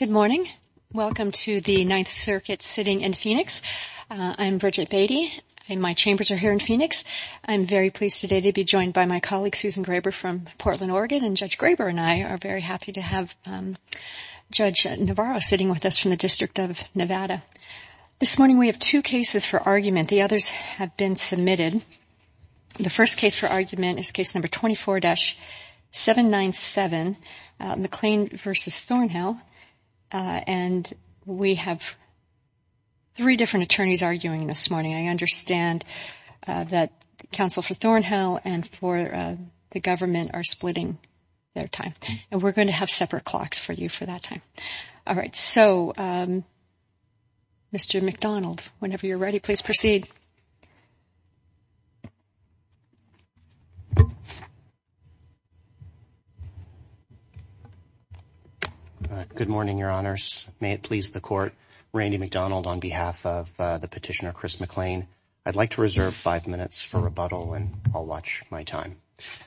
Good morning. Welcome to the Ninth Circuit sitting in Phoenix. I'm Bridget Beatty and my chambers are here in Phoenix. I'm very pleased today to be joined by my colleague Susan Graber from Portland, Oregon, and Judge Graber and I are very happy to have Judge Navarro sitting with us from the District of Nevada. This morning we have two cases for argument. The others have been submitted. The first case for argument is case number 24-797, McClain v. Thornhill, and we have three different attorneys arguing this morning. I understand that counsel for Thornhill and for the government are splitting their time and we're going to have separate clocks for you for that time. All right. So, Mr. McDonald, whenever you're ready, please proceed. Good morning, your honors. May it please the court. Randy McDonald on behalf of the petitioner Chris McClain. I'd like to reserve five minutes for rebuttal and I'll watch my time.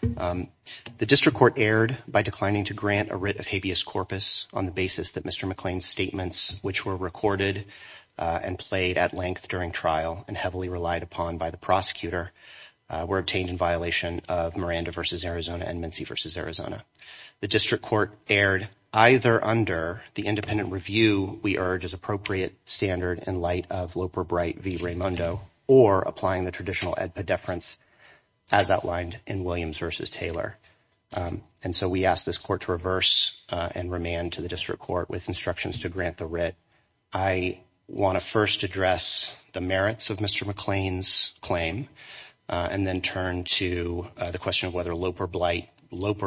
The district court erred by declining to grant a writ of habeas corpus on the basis that Mr. McClain's statements, which were recorded and played at length during trial and heavily relied upon by the prosecutor, were obtained in violation of Miranda v. Arizona and Mincy v. Arizona. The district court erred either under the independent review we urge as appropriate standard in light of Loper Bright v. Raimondo or applying the traditional ed pediferance as outlined in Williams v. Taylor. And so we ask this court to reverse and remand to the district court with instructions to grant the writ. I want to first address the merits of Mr. McClain's claim and then turn to the question of whether Loper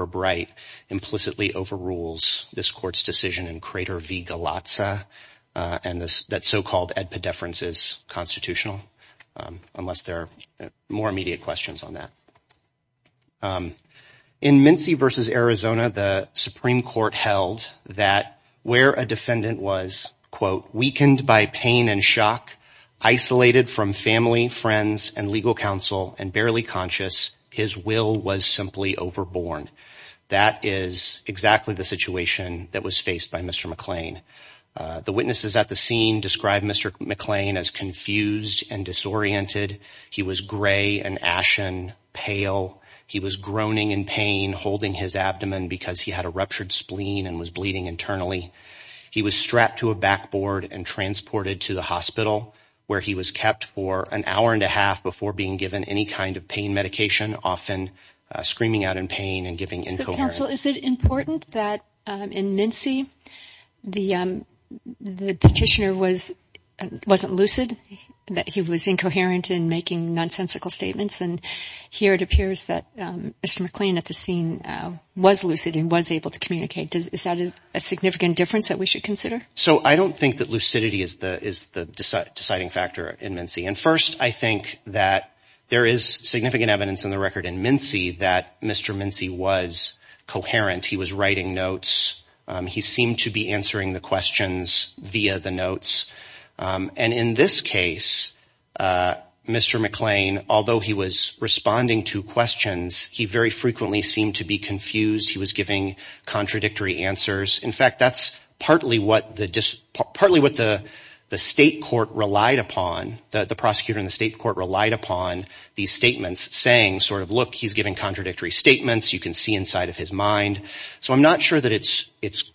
Bright implicitly overrules this court's decision in Crater v. Galatza and that so-called ed pediferance is constitutional, unless there are more immediate questions on that. In Mincy v. Arizona, the Supreme Court held that where a defendant was, quote, weakened by pain and shock, isolated from family, friends and legal counsel and barely conscious, his will was simply overborne. That is exactly the situation that was faced by Mr. McClain. The witnesses at the scene described Mr. McClain as confused and disoriented. He was gray and ashen, pale. He was groaning in pain, holding his abdomen because he had a ruptured spleen and was bleeding internally. He was strapped to a backboard and transported to the hospital where he was kept for an hour and a half before being given any kind of pain medication, often screaming out in pain and giving incoherent. So is it important that in Mincy the petitioner wasn't lucid, that he was incoherent in making nonsensical statements? And here it appears that Mr. McClain at the scene was lucid and was able to communicate. Is that a significant difference that we should consider? So I don't think that lucidity is the deciding factor in Mincy. And first, I think that there is significant evidence in the record in Mincy that Mr. Mincy was coherent. He was writing notes. He seemed to be answering the questions via the notes. And in this case, Mr. McClain, although he was responding to questions, he very frequently seemed to be confused. He was giving contradictory answers. In fact, that's partly what the state court relied upon. The prosecutor in the state court relied upon these statements saying sort of, look, he's giving contradictory statements. You can see inside of his mind. So I'm not sure that it's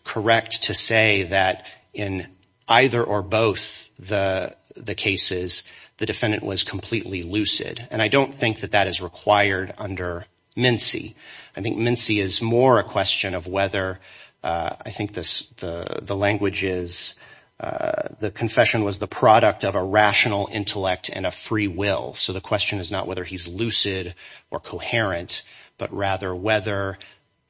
correct to say that in either or both the cases, the defendant was completely lucid. And I don't think that that is required under Mincy. I think Mincy is more a question of whether – I think the language is the confession was the product of a rational intellect and a free will. So the question is not whether he's lucid or coherent, but rather whether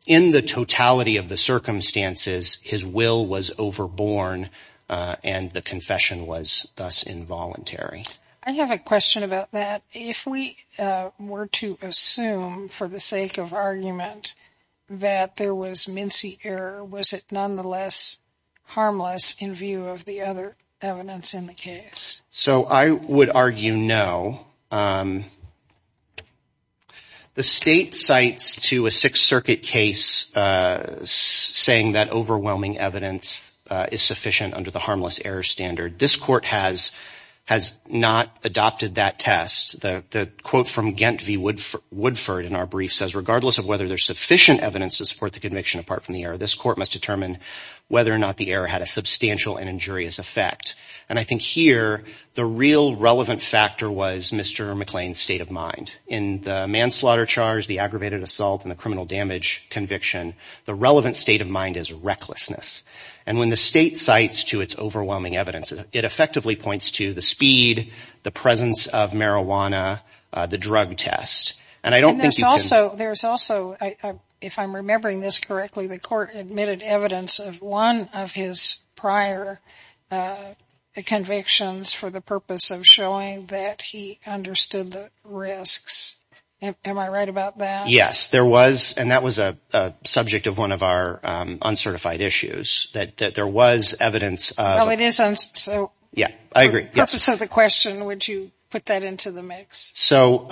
in the totality of the circumstances, his will was overborne and the confession was thus involuntary. I have a question about that. If we were to assume for the sake of argument that there was Mincy error, was it nonetheless harmless in view of the other evidence in the case? So I would argue no. The state cites to a Sixth Circuit case saying that overwhelming evidence is sufficient under the harmless error standard. This court has not adopted that test. The quote from Gent v. Woodford in our brief says, regardless of whether there's sufficient evidence to support the conviction apart from the error, this court must determine whether or not the error had a substantial and injurious effect. And I think here the real relevant factor was Mr. McLean's state of mind. In the manslaughter charge, the aggravated assault and the criminal damage conviction, the relevant state of mind is recklessness. And when the state cites to its overwhelming evidence, it effectively points to the speed, the presence of marijuana, the drug test. There's also, if I'm remembering this correctly, the court admitted evidence of one of his prior convictions for the purpose of showing that he understood the risks. Am I right about that? Yes, there was. And that was a subject of one of our uncertified issues, that there was evidence. It is. So yeah, I agree. So the question, would you put that into the mix? So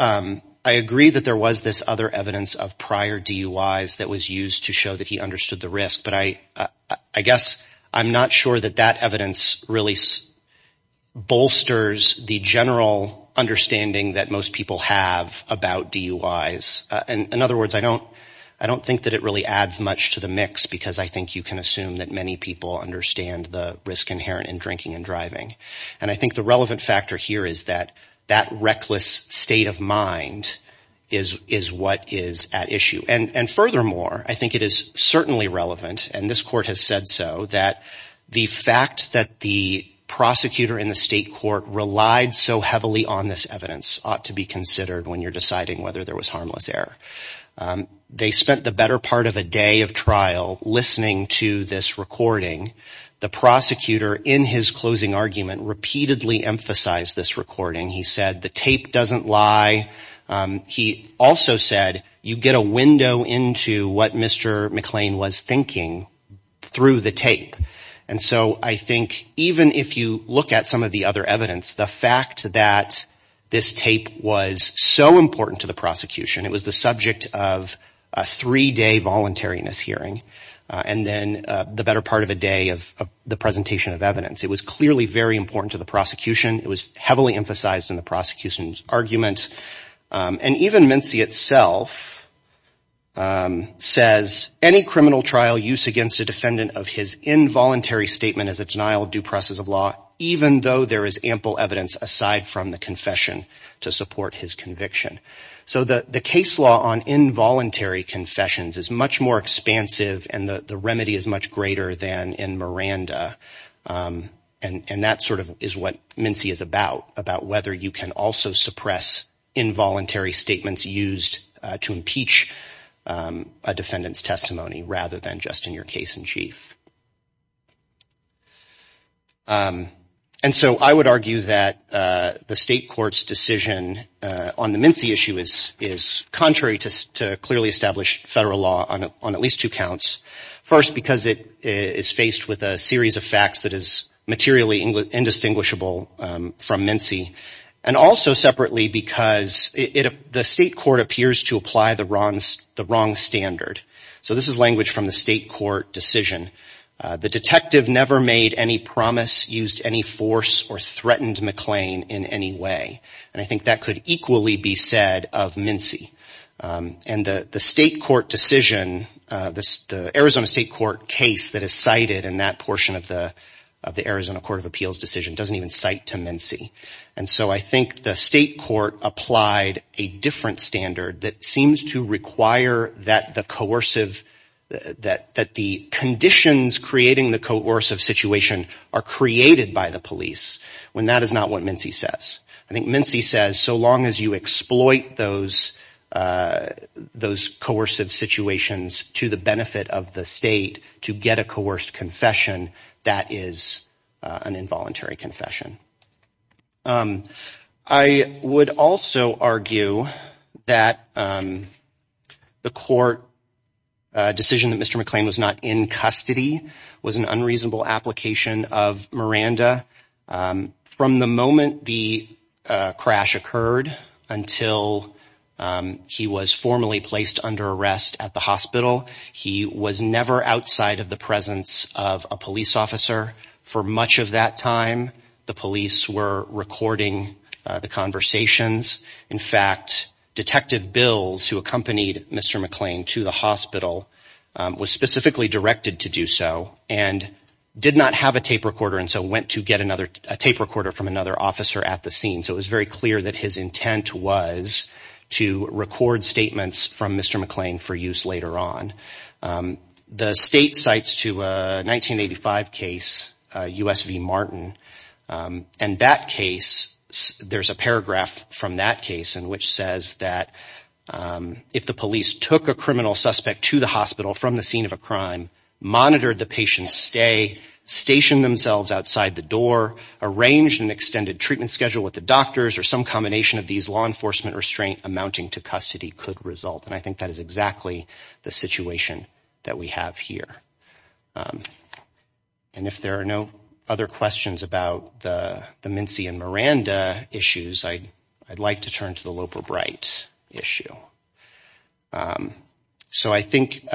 I agree that there was this other evidence of prior DUIs that was used to show that he understood the risk. But I guess I'm not sure that that evidence really bolsters the general understanding that most people have about DUIs. And in other words, I don't I don't think that it really adds much to the mix, because I think you can assume that many people understand the risk inherent in drinking and driving. And I think the relevant factor here is that that reckless state of mind is is what is at issue. And furthermore, I think it is certainly relevant. And this court has said so, that the fact that the prosecutor in the state court relied so heavily on this evidence ought to be considered when you're deciding whether there was harmless error. They spent the better part of a day of trial listening to this recording. The prosecutor in his closing argument repeatedly emphasized this recording. He said the tape doesn't lie. He also said you get a window into what Mr. McLean was thinking through the tape. And so I think even if you look at some of the other evidence, the fact that this tape was so important to the prosecution, it was the subject of a three day voluntariness hearing. And then the better part of a day of the presentation of evidence, it was clearly very important to the prosecution. It was heavily emphasized in the prosecution's argument. And even Mincy itself says any criminal trial use against a defendant of his involuntary statement is a denial of due process of law, even though there is ample evidence aside from the confession to support his conviction. So the case law on involuntary confessions is much more expansive and the remedy is much greater than in Miranda. And that sort of is what Mincy is about, about whether you can also suppress involuntary statements used to impeach a defendant's testimony rather than just in your case in chief. And so I would argue that the state court's decision on the Mincy issue is contrary to clearly established federal law on at least two counts. First, because it is faced with a series of facts that is materially indistinguishable from Mincy. And also separately because the state court appears to apply the wrong standard. So this is language from the state court decision. The detective never made any promise, used any force, or threatened McLean in any way. And I think that could equally be said of Mincy. And the state court decision, the Arizona state court case that is cited in that portion of the Arizona Court of Appeals decision doesn't even cite to Mincy. And so I think the state court applied a different standard that seems to require that the coercive, that the conditions creating the coercive situation are created by the police when that is not what Mincy says. I think Mincy says so long as you exploit those coercive situations to the benefit of the state to get a coerced confession, that is an involuntary confession. I would also argue that the court decision that Mr. McLean was not in custody was an unreasonable application of Miranda. From the moment the crash occurred until he was formally placed under arrest at the hospital, he was never outside of the presence of a police officer. For much of that time, the police were recording the conversations. In fact, Detective Bills, who accompanied Mr. McLean to the hospital, was specifically directed to do so and did not have a tape recorder and so went to get a tape recorder from another officer at the scene. So it was very clear that his intent was to record statements from Mr. McLean for use later on. The state cites to a 1985 case, U.S. v. Martin, and that case, there's a paragraph from that case in which says that if the police took a criminal suspect to the hospital from the scene of a crime, monitored the patient's stay, stationed themselves outside the door, arranged an extended treatment schedule with the doctors or some combination of these law enforcement restraint amounting to custody could result. And I think that is exactly the situation that we have here. And if there are no other questions about the Mincy and Miranda issues, I'd like to turn to the Loper Bright issue. So I think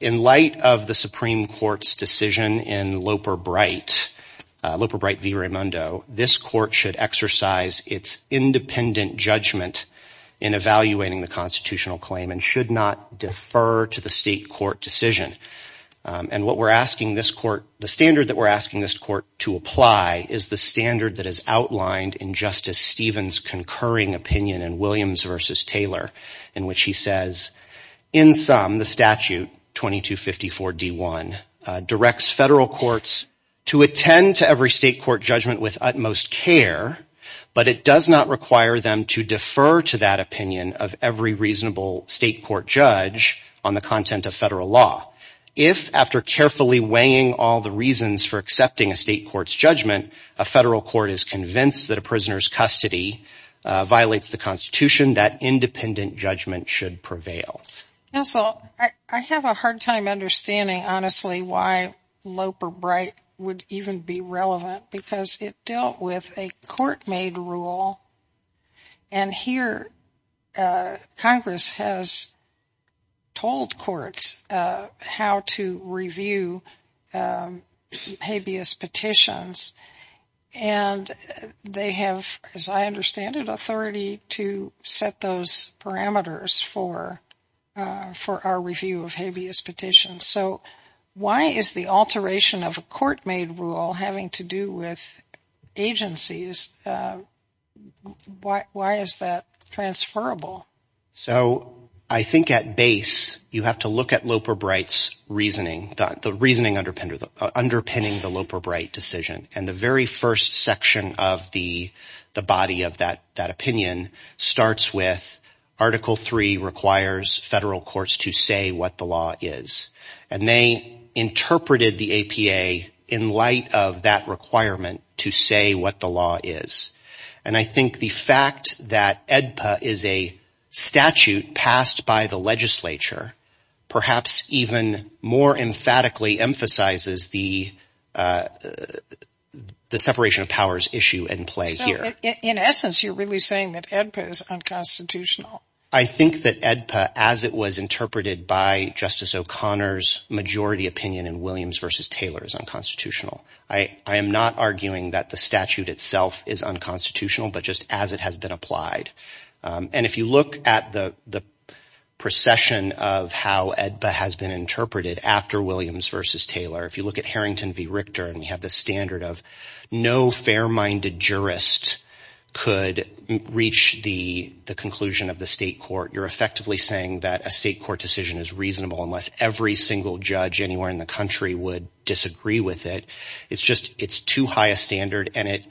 in light of the Supreme Court's decision in Loper Bright v. Raimondo, this court should exercise its independent judgment in evaluating the constitutional claim and should not defer to the state court decision. And what we're asking this court, the standard that we're asking this court to apply is the standard that is outlined in Justice Stevens' concurring opinion in Williams v. Taylor, in which he says, in sum, the statute 2254 D1 directs federal courts to attend to every state court judgment with utmost care, but it does not require them to defer to that opinion of every reasonable state court judge on the content of federal law. If, after carefully weighing all the reasons for accepting a state court's judgment, a federal court is convinced that a prisoner's custody violates the Constitution, that independent judgment should prevail. And so I have a hard time understanding, honestly, why Loper Bright would even be relevant, because it dealt with a court-made rule. And here Congress has told courts how to review habeas petitions. And they have, as I understand it, authority to set those parameters for our review of habeas petitions. So why is the alteration of a court-made rule having to do with agencies? Why is that transferable? So I think at base you have to look at Loper Bright's reasoning, the reasoning underpinning the Loper Bright decision. And the very first section of the body of that opinion starts with Article III requires federal courts to say what the law is. And they interpreted the APA in light of that requirement to say what the law is. And I think the fact that AEDPA is a statute passed by the legislature perhaps even more emphatically emphasizes the separation of powers issue in play here. So in essence you're really saying that AEDPA is unconstitutional? I think that AEDPA, as it was interpreted by Justice O'Connor's majority opinion in Williams v. Taylor, is unconstitutional. I am not arguing that the statute itself is unconstitutional, but just as it has been applied. And if you look at the procession of how AEDPA has been interpreted after Williams v. Taylor, if you look at Harrington v. Richter, and we have the standard of no fair-minded jurist could reach the conclusion of the state court, you're effectively saying that a state court decision is reasonable unless every single judge anywhere in the country would disagree with it. It's just it's too high a standard and it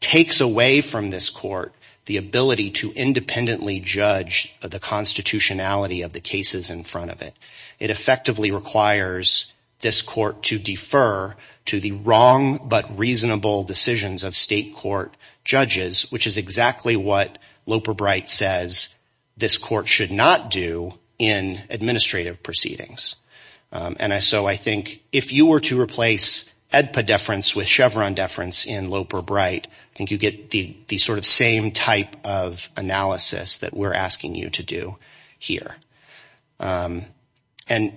takes away from this court the ability to independently judge the constitutionality of the cases in front of it. It effectively requires this court to defer to the wrong but reasonable decisions of state court judges, which is exactly what Loper Bright says this court should not do in administrative proceedings. And so I think if you were to replace AEDPA deference with Chevron deference in Loper Bright, I think you get the sort of same type of analysis that we're asking you to do here. And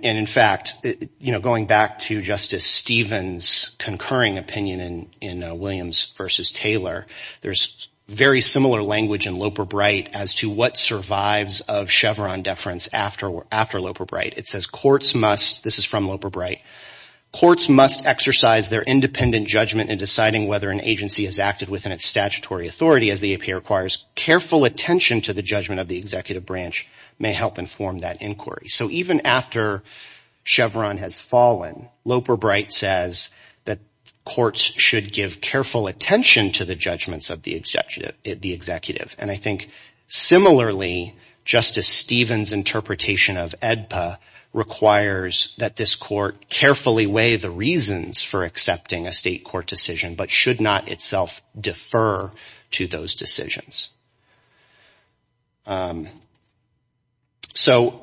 in fact, you know, going back to Justice Stevens' concurring opinion in Williams v. Taylor, there's very similar language in Loper Bright as to what survives of Chevron deference after Loper Bright. It says courts must, this is from Loper Bright, courts must exercise their independent judgment in deciding whether an agency has acted within its statutory authority. As the APA requires careful attention to the judgment of the executive branch may help inform that inquiry. So even after Chevron has fallen, Loper Bright says that courts should give careful attention to the judgments of the executive. And I think similarly, Justice Stevens' interpretation of AEDPA requires that this court carefully weigh the reasons for accepting a state court decision, but should not itself defer to those decisions. So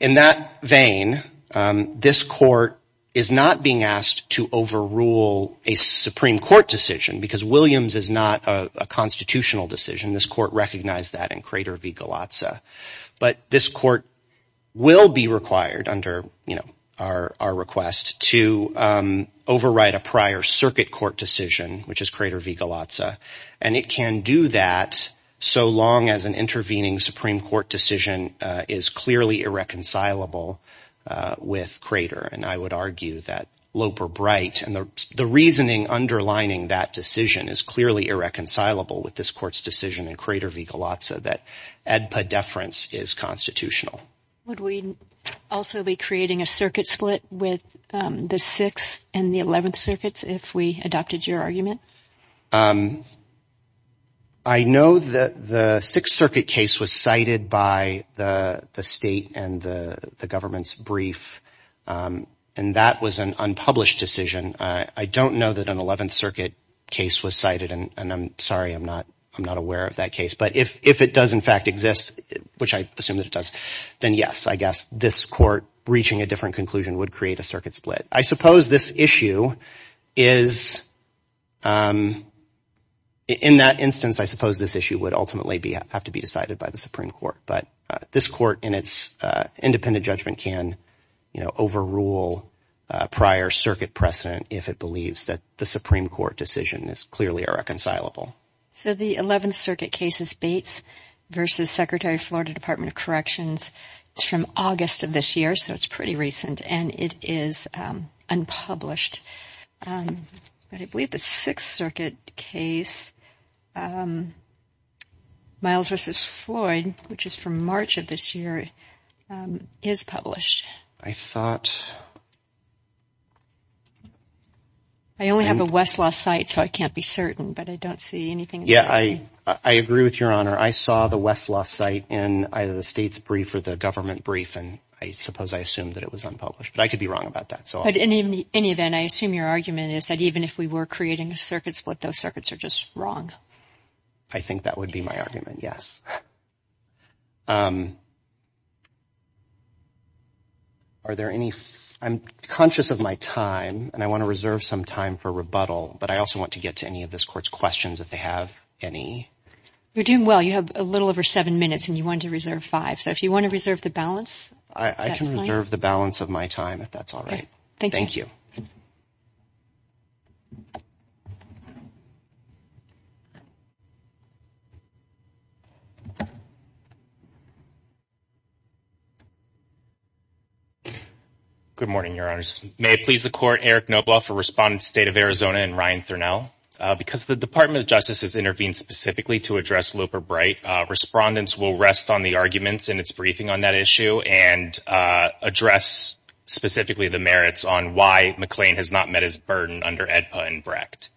in that vein, this court is not being asked to overrule a Supreme Court decision because Williams is not a constitutional decision. This court recognized that in Crater v. Galatza. But this court will be required under our request to overwrite a prior circuit court decision, which is Crater v. Galatza. And it can do that so long as an intervening Supreme Court decision is clearly irreconcilable with Crater. And I would argue that Loper Bright and the reasoning underlining that decision is clearly irreconcilable with this court's decision in Crater v. Galatza, that AEDPA deference is constitutional. Would we also be creating a circuit split with the Sixth and the Eleventh Circuits if we adopted your argument? I know that the Sixth Circuit case was cited by the state and the government's brief, and that was an unpublished decision. I don't know that an Eleventh Circuit case was cited, and I'm sorry, I'm not aware of that case. But if it does in fact exist, which I assume that it does, then yes, I guess this court reaching a different conclusion would create a circuit split. I suppose this issue is, in that instance, I suppose this issue would ultimately have to be decided by the Supreme Court. But this court in its independent judgment can overrule prior circuit precedent if it believes that the Supreme Court decision is clearly irreconcilable. So the Eleventh Circuit case is Bates v. Secretary of Florida Department of Corrections. It's from August of this year, so it's pretty recent, and it is unpublished. But I believe the Sixth Circuit case, Miles v. Floyd, which is from March of this year, is published. I thought... I only have a Westlaw site, so I can't be certain, but I don't see anything... Yeah, I agree with Your Honor. I saw the Westlaw site in either the state's brief or the government brief, and I suppose I assumed that it was unpublished, but I could be wrong about that. But in any event, I assume your argument is that even if we were creating a circuit split, those circuits are just wrong. I think that would be my argument, yes. Are there any... I'm conscious of my time, and I want to reserve some time for rebuttal, but I also want to get to any of this court's questions if they have any. You're doing well. You have a little over seven minutes, and you wanted to reserve five, so if you want to reserve the balance, that's fine. I can reserve the balance of my time if that's all right. Good morning, Your Honors. May it please the Court, Eric Knoblauch for Respondents, State of Arizona, and Ryan Thurnell. Because the Department of Justice has intervened specifically to address Looper-Bright, respondents will rest on the arguments in its briefing on that issue and address specifically the merits on why McLean has not met his burden under AEDPA and BRECT.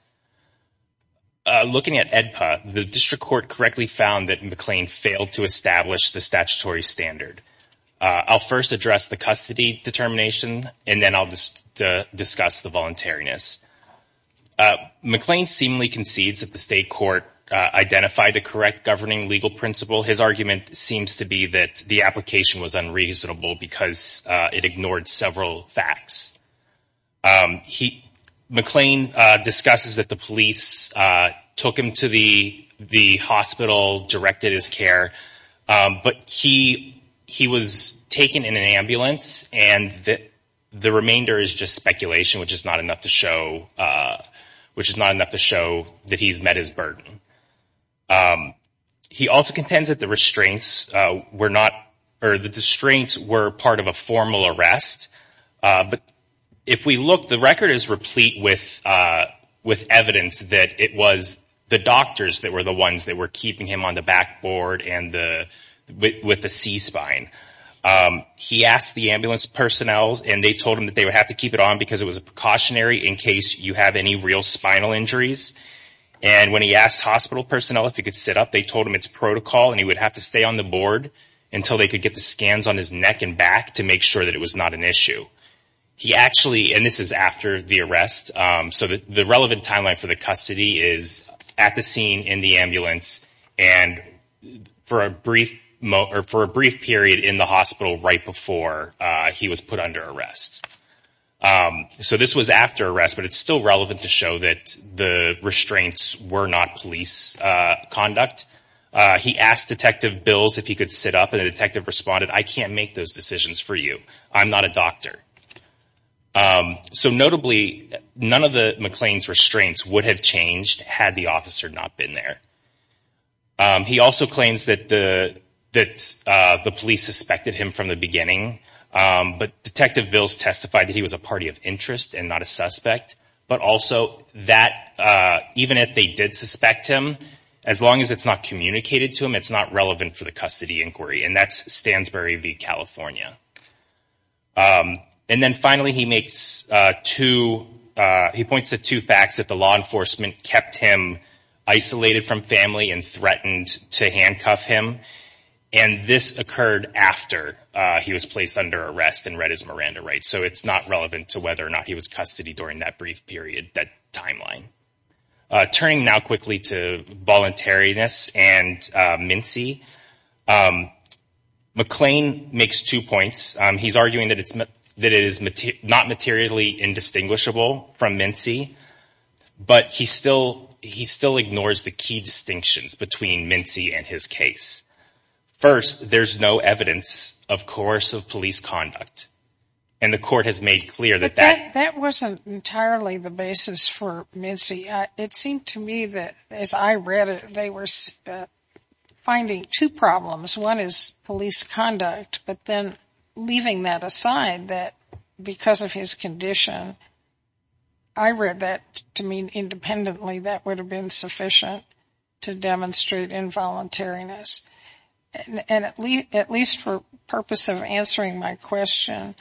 Looking at AEDPA, the District Court correctly found that McLean failed to establish the statutory standard. I'll first address the custody determination, and then I'll discuss the voluntariness. McLean seemingly concedes that the State Court identified the correct governing legal principle. His argument seems to be that the application was unreasonable because it ignored several facts. McLean discusses that the police took him to the hospital, directed his care. But he was taken in an ambulance, and the remainder is just speculation, which is not enough to show that he's met his burden. He also contends that the restraints were part of a formal arrest. But if we look, the record is replete with evidence that it was the doctors that were the ones that were keeping him on the back board with a C-spine. He asked the ambulance personnel, and they told him that they would have to keep it on because it was a precautionary in case you have any real spinal injuries. And when he asked hospital personnel if he could sit up, they told him it's protocol and he would have to stay on the board until they could get the scans on his neck and back to make sure that it was not an issue. He actually, and this is after the arrest, so the relevant timeline for the custody is at the scene in the ambulance and for a brief period in the hospital right before he was put under arrest. So this was after arrest, but it's still relevant to show that the restraints were not police conduct. He asked Detective Bills if he could sit up, and the detective responded, I can't make those decisions for you. I'm not a doctor. So notably, none of the McLean's restraints would have changed had the officer not been there. He also claims that the police suspected him from the beginning, but Detective Bills testified that he was a party of interest and not a suspect. But also that even if they did suspect him, as long as it's not communicated to him, it's not relevant for the custody inquiry. And that's Stansbury v. California. And then finally he makes two, he points to two facts that the law enforcement kept him isolated from family and threatened to handcuff him. And this occurred after he was placed under arrest and read his Miranda rights. So it's not relevant to whether or not he was custody during that brief period, that timeline. Turning now quickly to voluntariness and Mincy, McLean makes two points. He's arguing that it is not materially indistinguishable from Mincy, but he still ignores the key distinctions between Mincy and his case. First, there's no evidence, of course, of police conduct. And the court has made clear that that... But that wasn't entirely the basis for Mincy. It seemed to me that as I read it, they were finding two problems. One is police conduct, but then leaving that aside, that because of his condition, I read that to mean independently that would have been sufficient to demonstrate involuntariness. And at least for purpose of answering my question,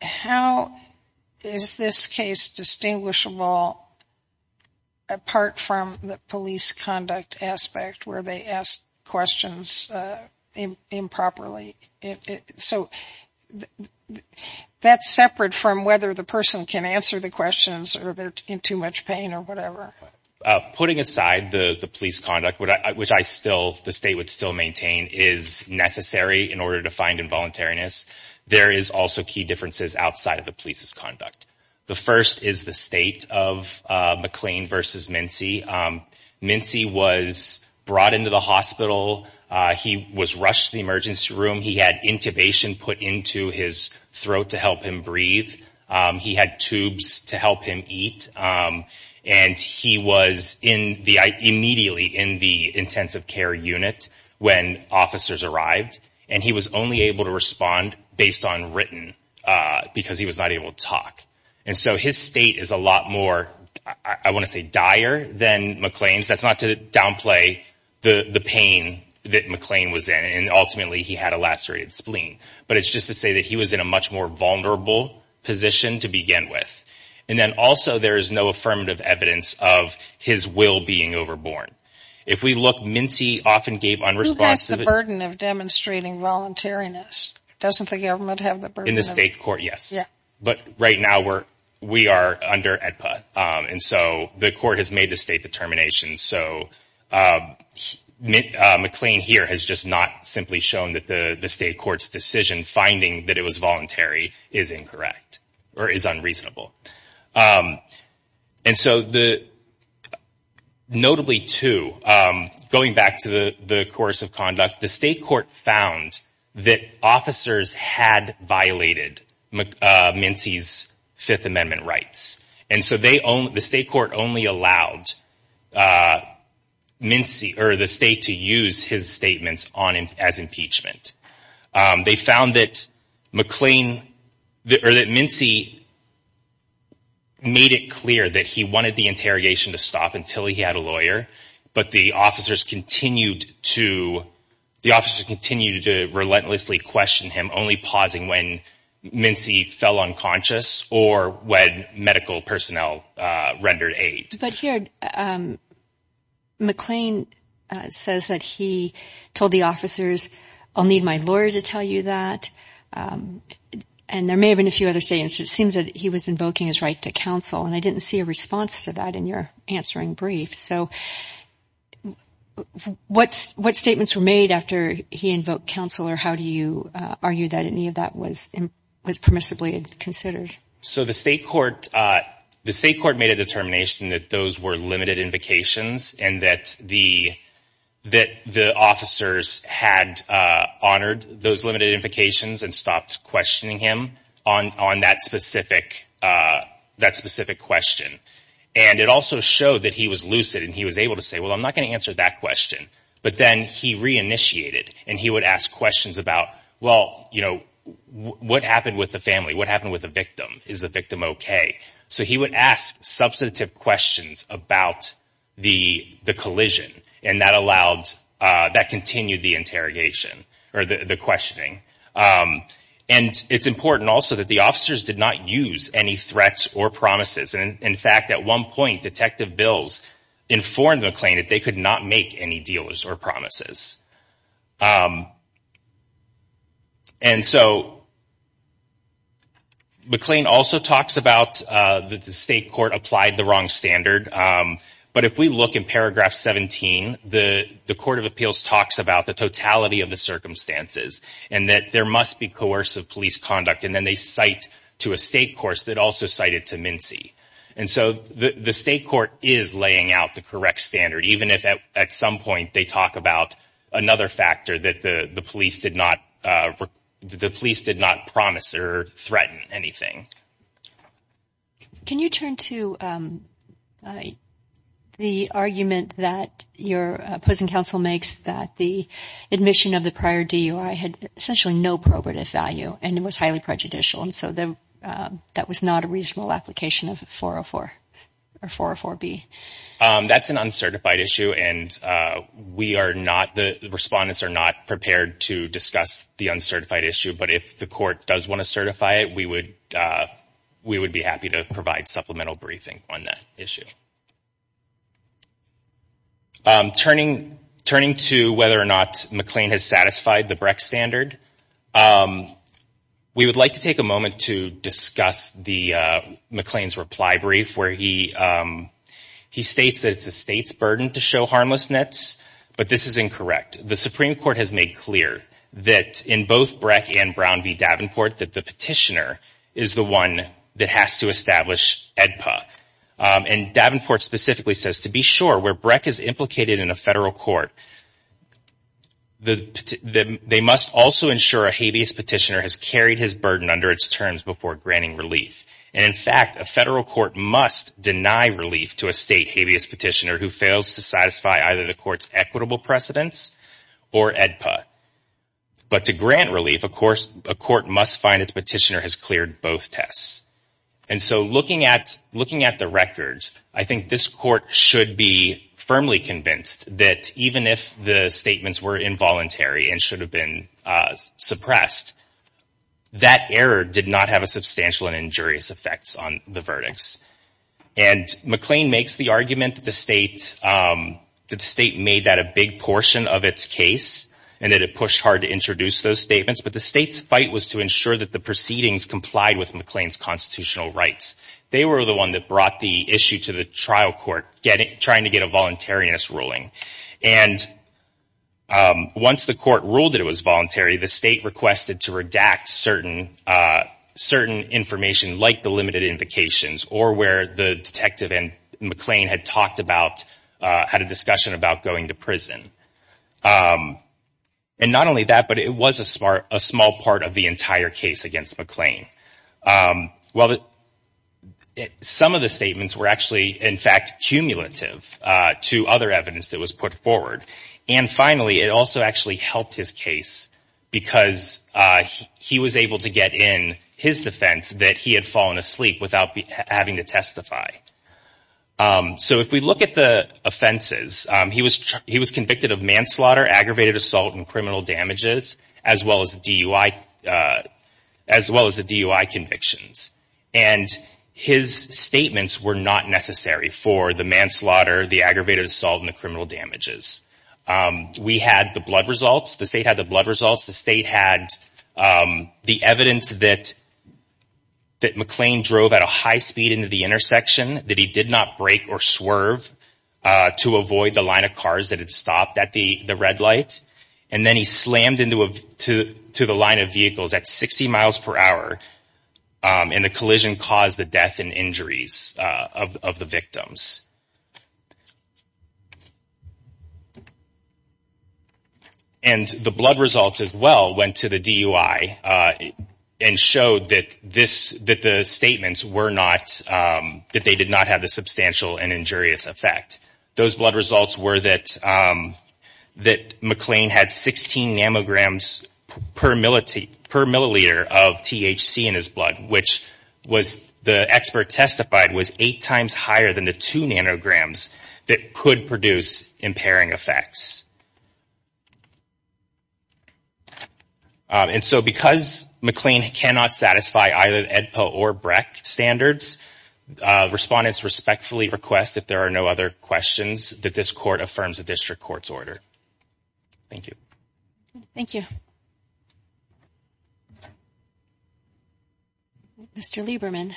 how is this case distinguishable apart from the police conduct aspect where they ask questions improperly? So that's separate from whether the person can answer the questions or they're in too much pain or whatever. Putting aside the police conduct, which I still, the state would still maintain is necessary in order to find involuntariness. There is also key differences outside of the police's conduct. The first is the state of McLean versus Mincy. Mincy was brought into the hospital. He was rushed to the emergency room. He had intubation put into his throat to help him breathe. He had tubes to help him eat. And he was immediately in the intensive care unit when officers arrived. And he was only able to respond based on written, because he was not able to talk. And so his state is a lot more, I want to say dire than McLean's. That's not to downplay the pain that McLean was in. And ultimately he had a lacerated spleen. But it's just to say that he was in a much more vulnerable position to begin with. And then also there is no affirmative evidence of his will being overborn. Who has the burden of demonstrating voluntariness? In the state court, yes. But right now we are under AEDPA. And so the court has made the state determination. So McLean here has just not simply shown that the state court's decision finding that it was voluntary is incorrect or is unreasonable. And so notably too, going back to the course of conduct, the state court found that officers had violated Mincy's Fifth Amendment rights. And so the state court only allowed Mincy, or the state, to use his statements as impeachment. They found that Mincy made it clear that he wanted the interrogation to stop until he had a lawyer, but the officers continued to relentlessly question him, only pausing when Mincy fell unconscious or when medical personnel rendered aid. But here McLean says that he told the officers, I'll need my lawyer to tell you that. And there may have been a few other statements. It seems that he was invoking his right to counsel, and I didn't see a response to that in your answering brief. So what statements were made after he invoked counsel, or how do you argue that any of that was permissibly considered? So the state court made a determination that those were limited invocations, and that the officers had honored those limited invocations and stopped questioning him on that specific question. And it also showed that he was lucid, and he was able to say, well, I'm not going to answer that question. But then he reinitiated, and he would ask questions about, well, what happened with the family? What happened with the victim? Is the victim okay? So he would ask substantive questions about the collision, and that continued the interrogation, or the questioning. And it's important also that the officers did not use any threats or promises. And, in fact, at one point, Detective Bills informed McLean that they could not make any deals or promises. And so McLean also talks about the state court applied the wrong standard. But if we look in paragraph 17, the Court of Appeals talks about the totality of the circumstances, and that there must be coercive police conduct. And then they cite to a state court that also cited to Mincy. And so the state court is laying out the correct standard, even if at some point they talk about another factor, that the police did not promise or threaten anything. Can you turn to the argument that your opposing counsel makes that the admission of the prior DUI had essentially no probative value, and it was highly prejudicial, and so that was not a reasonable application of 404 or 404B? That's an uncertified issue, and the respondents are not prepared to discuss the uncertified issue. But if the court does want to certify it, we would be happy to provide supplemental briefing on that issue. Turning to whether or not McLean has satisfied the Breck standard, we would like to take a moment to discuss McLean's reply brief, where he states that it's the state's burden to show harmless nets, but this is incorrect. The Supreme Court has made clear that in both Breck and Brown v. Davenport, that the petitioner is the one that has to establish AEDPA. And Davenport specifically says, to be sure, where Breck is implicated in a federal court, they must also ensure a habeas petitioner has carried his burden under its terms before granting relief. And in fact, a federal court must deny relief to a state habeas petitioner who fails to satisfy either the court's equitable precedence or AEDPA. But to grant relief, of course, a court must find that the petitioner has cleared both tests. And so looking at the records, I think this court should be firmly convinced that even if the statements were involuntary and should have been suppressed, that error did not have a substantial and injurious effect on the verdicts. And McLean makes the argument that the state made that a big portion of its case and that it pushed hard to introduce those statements, but the state's fight was to ensure that the proceedings complied with McLean's constitutional rights. They were the one that brought the issue to the trial court, trying to get a voluntariness ruling. And once the court ruled that it was voluntary, the state requested to redact certain information like the limited invocations or where the detective and McLean had talked about, had a discussion about going to prison. And not only that, but it was a small part of the entire case against McLean. Some of the statements were actually, in fact, cumulative to other evidence that was put forward. And finally, it also actually helped his case because he was able to get in his defense that he had fallen asleep without having to testify. So if we look at the offenses, he was convicted of manslaughter, aggravated assault, and criminal damages, as well as the DUI convictions. And his statements were not necessary for the manslaughter, the aggravated assault, and the criminal damages. We had the blood results. The state had the blood results. The state had the evidence that McLean drove at a high speed into the intersection, that he did not brake or swerve to avoid the line of cars that had stopped at the red light. And then he slammed into the line of vehicles at 60 miles per hour, and the collision caused the death and injuries of the victims. And the blood results, as well, went to the DUI and showed that the statements were not, that they did not have the substantial and injurious effect. Those blood results were that McLean had 16 nanograms per milliliter of THC in his blood, which the expert testified was eight times higher than the two nanograms that could produce impairing effects. And so because McLean cannot satisfy either the EDPA or BREC standards, respondents respectfully request that there are no other questions that this Court affirms the District Court's order. Thank you. Thank you. Mr. Lieberman.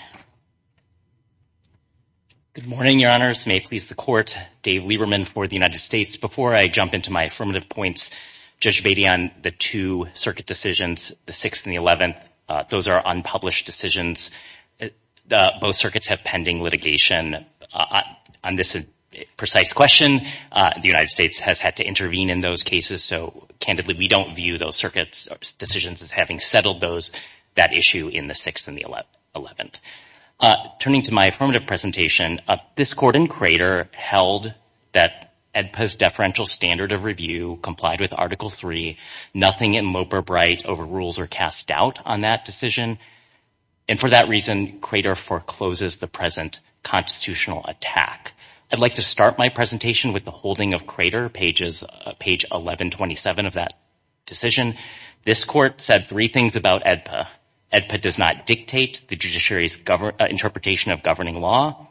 Good morning, Your Honors. May it please the Court, Dave Lieberman for the United States. Before I jump into my affirmative points, Judge Beatty, on the two circuit decisions, the 6th and the 11th, those are unpublished decisions. Both circuits have pending litigation on this precise question. The United States has had to intervene in those cases, so, candidly, we don't view those circuits' decisions as having settled those, that issue in the 6th and the 11th. Turning to my affirmative presentation, this Court in Crater held that EDPA's deferential standard of review complied with Article III. Nothing in lope or bright over rules are cast doubt on that decision. And for that reason, Crater forecloses the present constitutional attack. I'd like to start my presentation with the holding of Crater, page 1127 of that decision. This Court said three things about EDPA. EDPA does not dictate the judiciary's interpretation of governing law.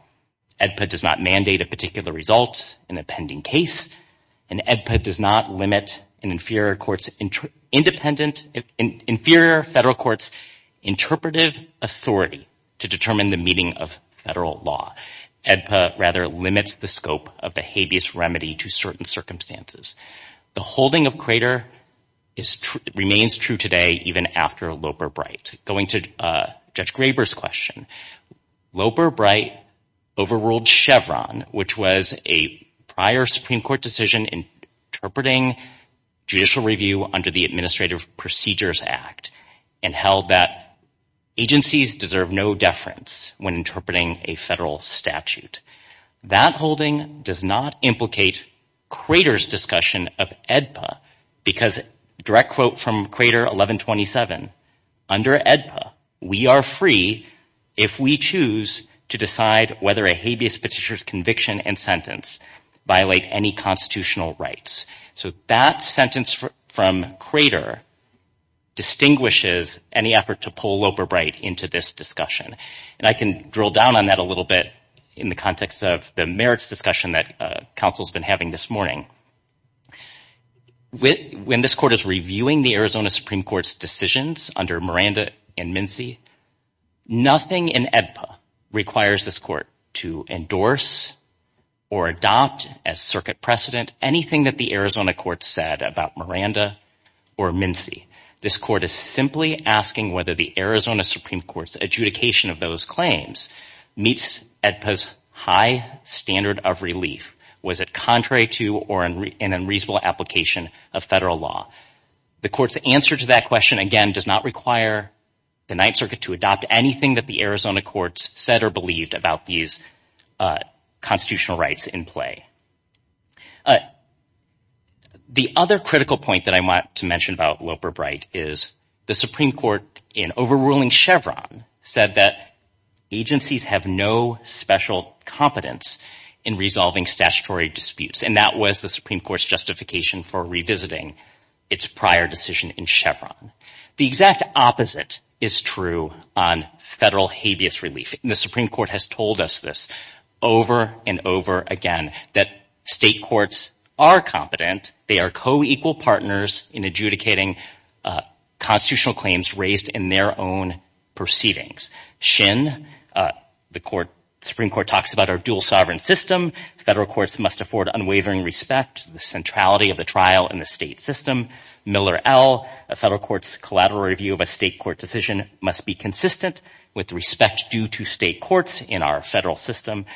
EDPA does not mandate a particular result in a pending case. And EDPA does not limit an inferior federal court's interpretive authority to determine the meaning of federal law. EDPA, rather, limits the scope of the habeas remedy to certain circumstances. The holding of Crater remains true today even after lope or bright. Going to Judge Graber's question, lope or bright overruled Chevron, which was a prior Supreme Court decision interpreting judicial review under the Administrative Procedures Act and held that agencies deserve no deference when interpreting a federal statute. That holding does not implicate Crater's discussion of EDPA because, direct quote from Crater 1127, under EDPA we are free if we choose to decide whether a habeas petitioner's conviction and sentence violate any constitutional rights. So that sentence from Crater distinguishes any effort to pull lope or bright into this discussion. And I can drill down on that a little bit in the context of the merits discussion that counsel's been having this morning. When this court is reviewing the Arizona Supreme Court's decisions under Miranda and Mincy, nothing in EDPA requires this court to endorse or adopt as circuit precedent anything that the Arizona court said about Miranda or Mincy. This court is simply asking whether the Arizona Supreme Court's adjudication of those claims meets EDPA's high standard of relief. Was it contrary to or an unreasonable application of federal law? The court's answer to that question, again, does not require the Ninth Circuit to adopt anything that the Arizona courts said or believed about these constitutional rights in play. The other critical point that I want to mention about lope or bright is the Supreme Court, in overruling Chevron, said that agencies have no special competence in resolving statutory disputes, and that was the Supreme Court's justification for revisiting its prior decision in Chevron. The exact opposite is true on federal habeas relief. The Supreme Court has told us this over and over again, that state courts are competent. They are co-equal partners in adjudicating constitutional claims raised in their own proceedings. Shin, the Supreme Court talks about our dual sovereign system. Federal courts must afford unwavering respect, the centrality of the trial in the state system. Miller L., a federal court's collateral review of a state court decision must be consistent with respect due to state courts in our federal system.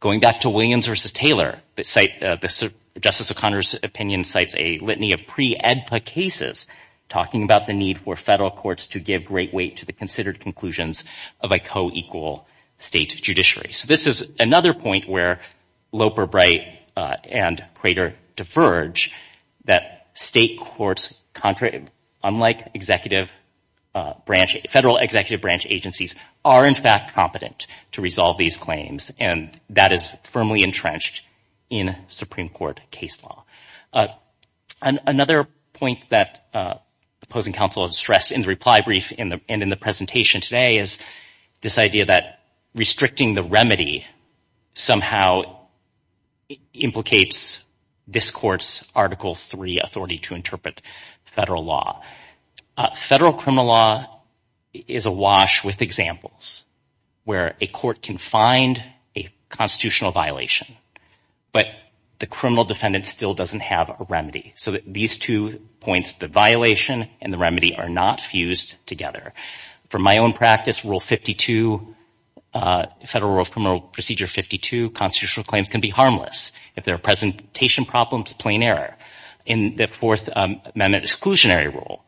Going back to Williams v. Taylor, Justice O'Connor's opinion cites a litany of pre-EDPA cases talking about the need for federal courts to give great weight to the considered conclusions of a co-equal state judiciary. So this is another point where lope or bright and Prater diverge, that state courts, unlike federal executive branch agencies, are in fact competent to resolve these claims, and that is firmly entrenched in Supreme Court case law. Another point that opposing counsel has stressed in the reply brief and in the presentation today is this idea that restricting the remedy somehow implicates this court's Article III authority to interpret federal law. Federal criminal law is awash with examples where a court can find a constitutional violation, but the criminal defendant still doesn't have a remedy. So these two points, the violation and the remedy, are not fused together. From my own practice, Rule 52, Federal Rule of Criminal Procedure 52, constitutional claims can be harmless. If there are presentation problems, plain error. In the Fourth Amendment exclusionary rule,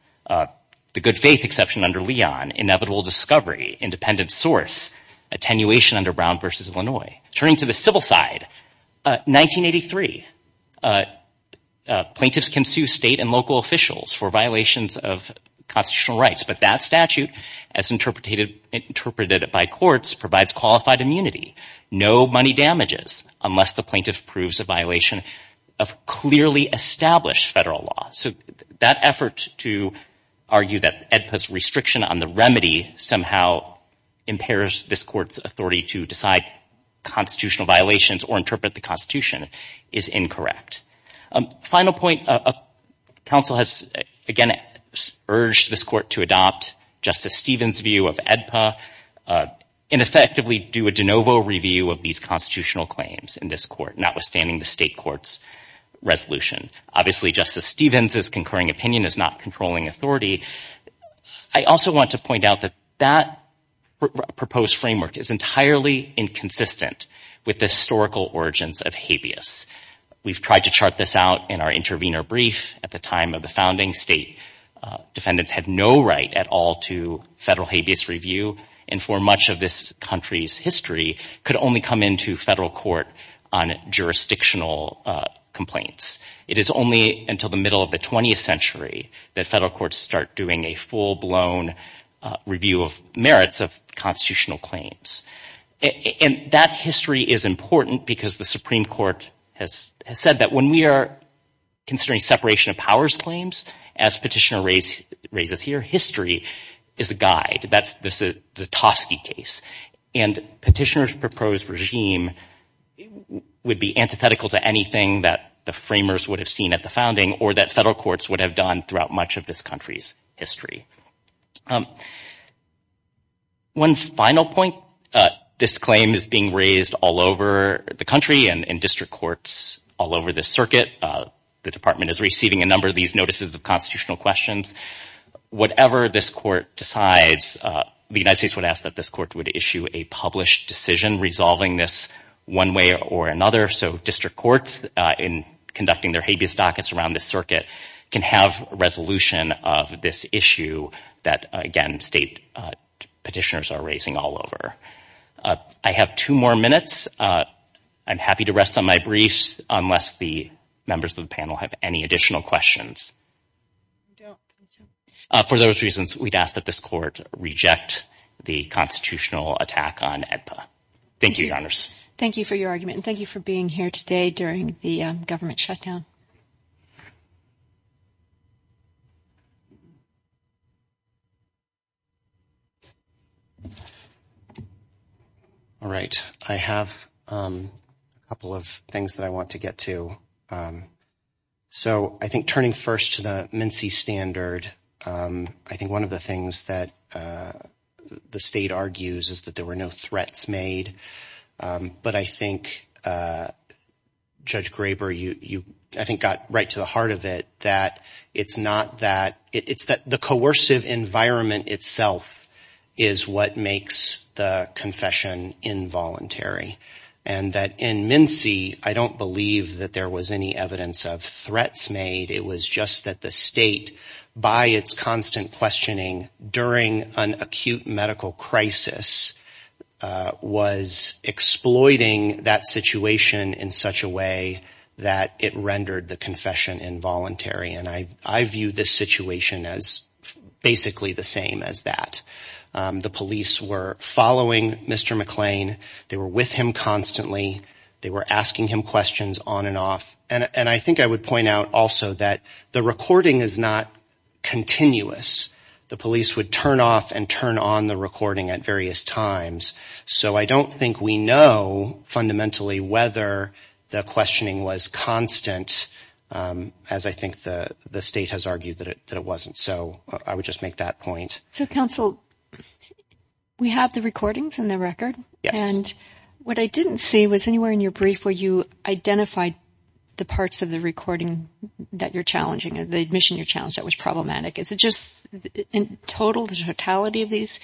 the good faith exception under Leon, inevitable discovery, independent source, attenuation under Brown v. Illinois. Turning to the civil side, 1983, plaintiffs can sue state and local officials for violations of constitutional rights, but that statute, as interpreted by courts, provides qualified immunity. No money damages unless the plaintiff proves a violation of clearly established federal law. So that effort to argue that AEDPA's restriction on the remedy somehow impairs this court's authority to decide constitutional violations or interpret the Constitution is incorrect. Final point, counsel has, again, urged this court to adopt Justice Stevens' view of AEDPA and effectively do a de novo review of these constitutional claims in this court, notwithstanding the state court's resolution. Obviously, Justice Stevens' concurring opinion is not controlling authority. I also want to point out that that proposed framework is entirely inconsistent with the historical origins of habeas. We've tried to chart this out in our intervener brief at the time of the founding. State defendants had no right at all to federal habeas review and for much of this country's history, could only come into federal court on jurisdictional complaints. It is only until the middle of the 20th century that federal courts start doing a full-blown review of merits of constitutional claims. And that history is important because the Supreme Court has said that when we are considering separation of powers claims, as Petitioner raises here, history is a guide. That's the Tosky case. And Petitioner's proposed regime would be antithetical to anything that the framers would have seen at the founding or that federal courts would have done throughout much of this country's history. One final point. This claim is being raised all over the country and in district courts all over the circuit. The department is receiving a number of these notices of constitutional questions. Whatever this court decides, the United States would ask that this court would issue a published decision resolving this one way or another so district courts, in conducting their habeas dockets around this circuit, can have resolution of this issue that, again, state petitioners are raising all over. I have two more minutes. I'm happy to rest on my briefs unless the members of the panel have any additional questions. For those reasons, we'd ask that this court reject the constitutional attack on AEDPA. Thank you, Your Honors. Thank you for your argument and thank you for being here today during the government shutdown. All right. I have a couple of things that I want to get to. So I think turning first to the MNC standard, I think one of the things that the state argues is that there were no threats made. But I think, Judge Graber, you, I think, got right to the heart of it, that it's not that. It's that the coercive environment itself is what makes the confession involuntary and that in MNC, I don't believe that there was any evidence of threats made. It was just that the state, by its constant questioning, during an acute medical crisis, was exploiting that situation in such a way that it rendered the confession involuntary. And I view this situation as basically the same as that. The police were following Mr. McClain. They were with him constantly. They were asking him questions on and off. And I think I would point out also that the recording is not continuous. The police would turn off and turn on the recording at various times. So I don't think we know fundamentally whether the questioning was constant, as I think the state has argued that it wasn't. So I would just make that point. So, counsel, we have the recordings and the record. And what I didn't see was anywhere in your brief where you identified the parts of the recording that you're challenging, the admission you challenged that was problematic. Is it just in total, the totality of these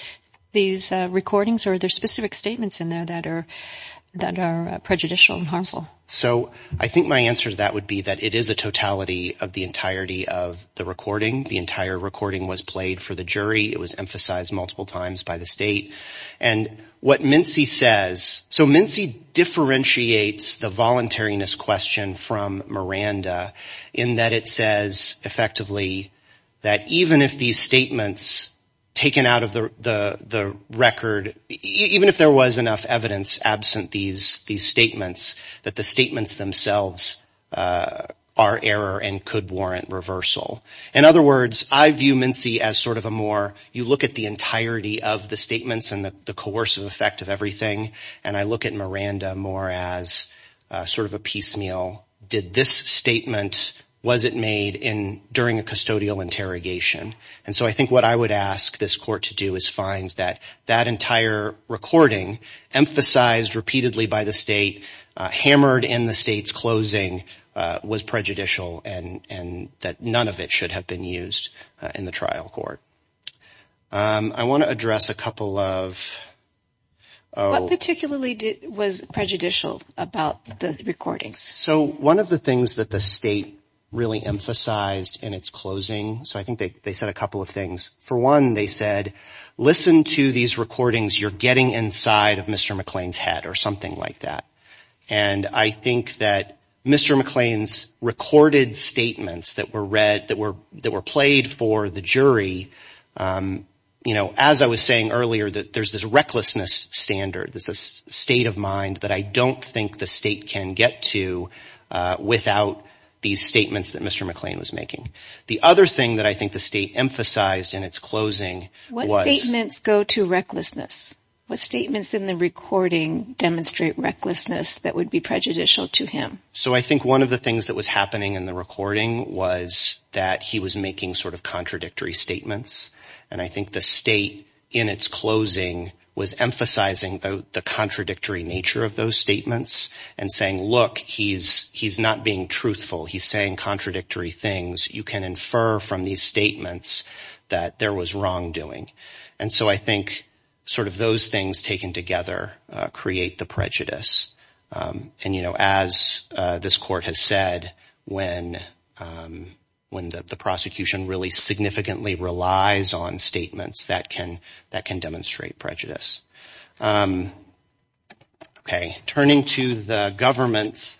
recordings, or are there specific statements in there that are prejudicial and harmful? So I think my answer to that would be that it is a totality of the entirety of the recording. The entire recording was played for the jury. It was emphasized multiple times by the state. And what Mincy says, so Mincy differentiates the voluntariness question from Miranda in that it says effectively that even if these statements taken out of the record, even if there was enough evidence absent these statements, that the statements themselves are error and could warrant reversal. In other words, I view Mincy as sort of a more, you look at the entirety of the statements and the coercive effect of everything, and I look at Miranda more as sort of a piecemeal. Did this statement, was it made during a custodial interrogation? And so I think what I would ask this court to do is find that that entire recording emphasized repeatedly by the state, hammered in the state's closing, was prejudicial and that none of it should have been used in the trial court. I want to address a couple of. What particularly was prejudicial about the recordings? So one of the things that the state really emphasized in its closing, so I think they said a couple of things. For one, they said, listen to these recordings. You're getting inside of Mr. McLean's head or something like that. And I think that Mr. McLean's recorded statements that were read, that were played for the jury, you know, as I was saying earlier, that there's this recklessness standard, there's this state of mind that I don't think the state can get to without these statements that Mr. McLean was making. The other thing that I think the state emphasized in its closing was. What statements go to recklessness? What statements in the recording demonstrate recklessness that would be prejudicial to him? So I think one of the things that was happening in the recording was that he was making sort of contradictory statements. And I think the state in its closing was emphasizing the contradictory nature of those statements and saying, look, he's not being truthful. He's saying contradictory things. You can infer from these statements that there was wrongdoing. And so I think sort of those things taken together create the prejudice. And, you know, as this court has said, when the prosecution really significantly relies on statements that can demonstrate prejudice. Okay. Turning to the government's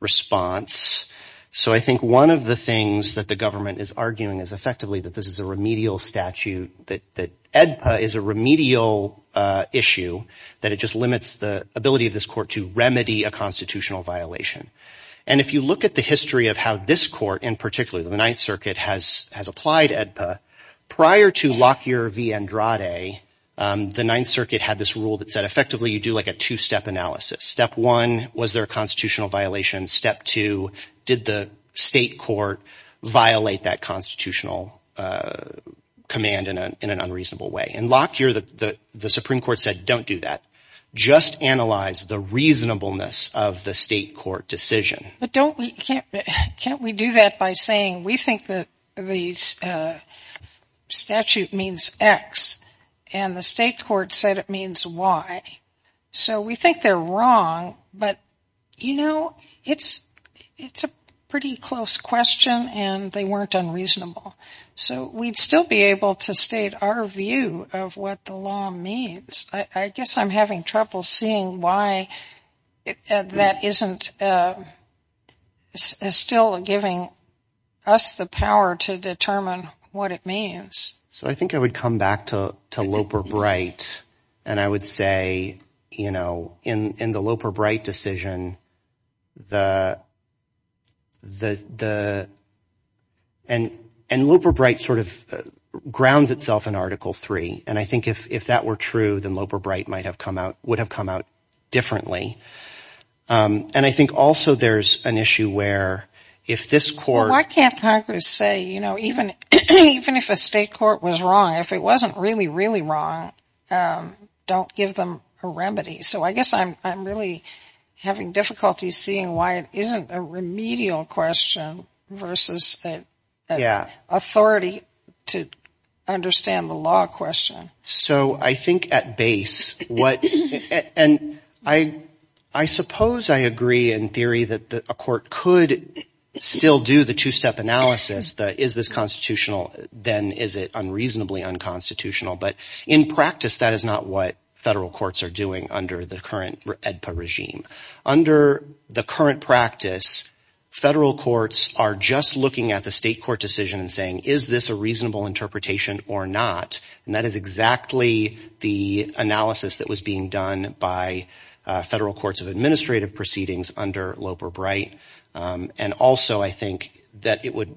response. So I think one of the things that the government is arguing is effectively that this is a remedial statute, that EDPA is a remedial issue, that it just limits the ability of this court to remedy a constitutional violation. And if you look at the history of how this court in particular, the Ninth Circuit has applied EDPA, prior to Lockyer v. Andrade, the Ninth Circuit had this rule that said effectively you do like a two-step analysis. Step one, was there a constitutional violation? Step two, did the state court violate that constitutional command in an unreasonable way? In Lockyer, the Supreme Court said don't do that. Just analyze the reasonableness of the state court decision. But can't we do that by saying we think that these statute means X and the state court said it means Y. So we think they're wrong, but, you know, it's a pretty close question and they weren't unreasonable. So we'd still be able to state our view of what the law means. I guess I'm having trouble seeing why that isn't still giving us the power to determine what it means. So I think I would come back to Loper-Bright and I would say, you know, in the Loper-Bright decision, the – and Loper-Bright sort of grounds itself in Article III. And I think if that were true, then Loper-Bright might have come out – would have come out differently. And I think also there's an issue where if this court – Well, why can't Congress say, you know, even if a state court was wrong, if it wasn't really, really wrong, don't give them a remedy. So I guess I'm really having difficulty seeing why it isn't a remedial question versus an authority to understand the law question. So I think at base what – and I suppose I agree in theory that a court could still do the two-step analysis that is this constitutional, then is it unreasonably unconstitutional. But in practice, that is not what federal courts are doing under the current AEDPA regime. Under the current practice, federal courts are just looking at the state court decision and saying, is this a reasonable interpretation or not? And that is exactly the analysis that was being done by federal courts of So I think that it would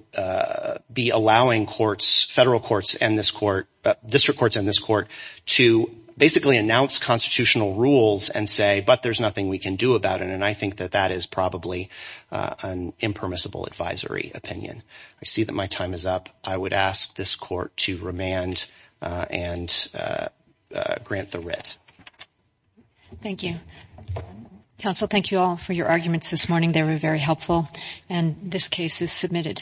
be allowing courts, federal courts and this court, district courts and this court to basically announce constitutional rules and say, but there's nothing we can do about it. And I think that that is probably an impermissible advisory opinion. I see that my time is up. I would ask this court to remand and grant the writ. Thank you. Counsel, thank you all for your arguments this morning. They were very helpful, and this case is submitted.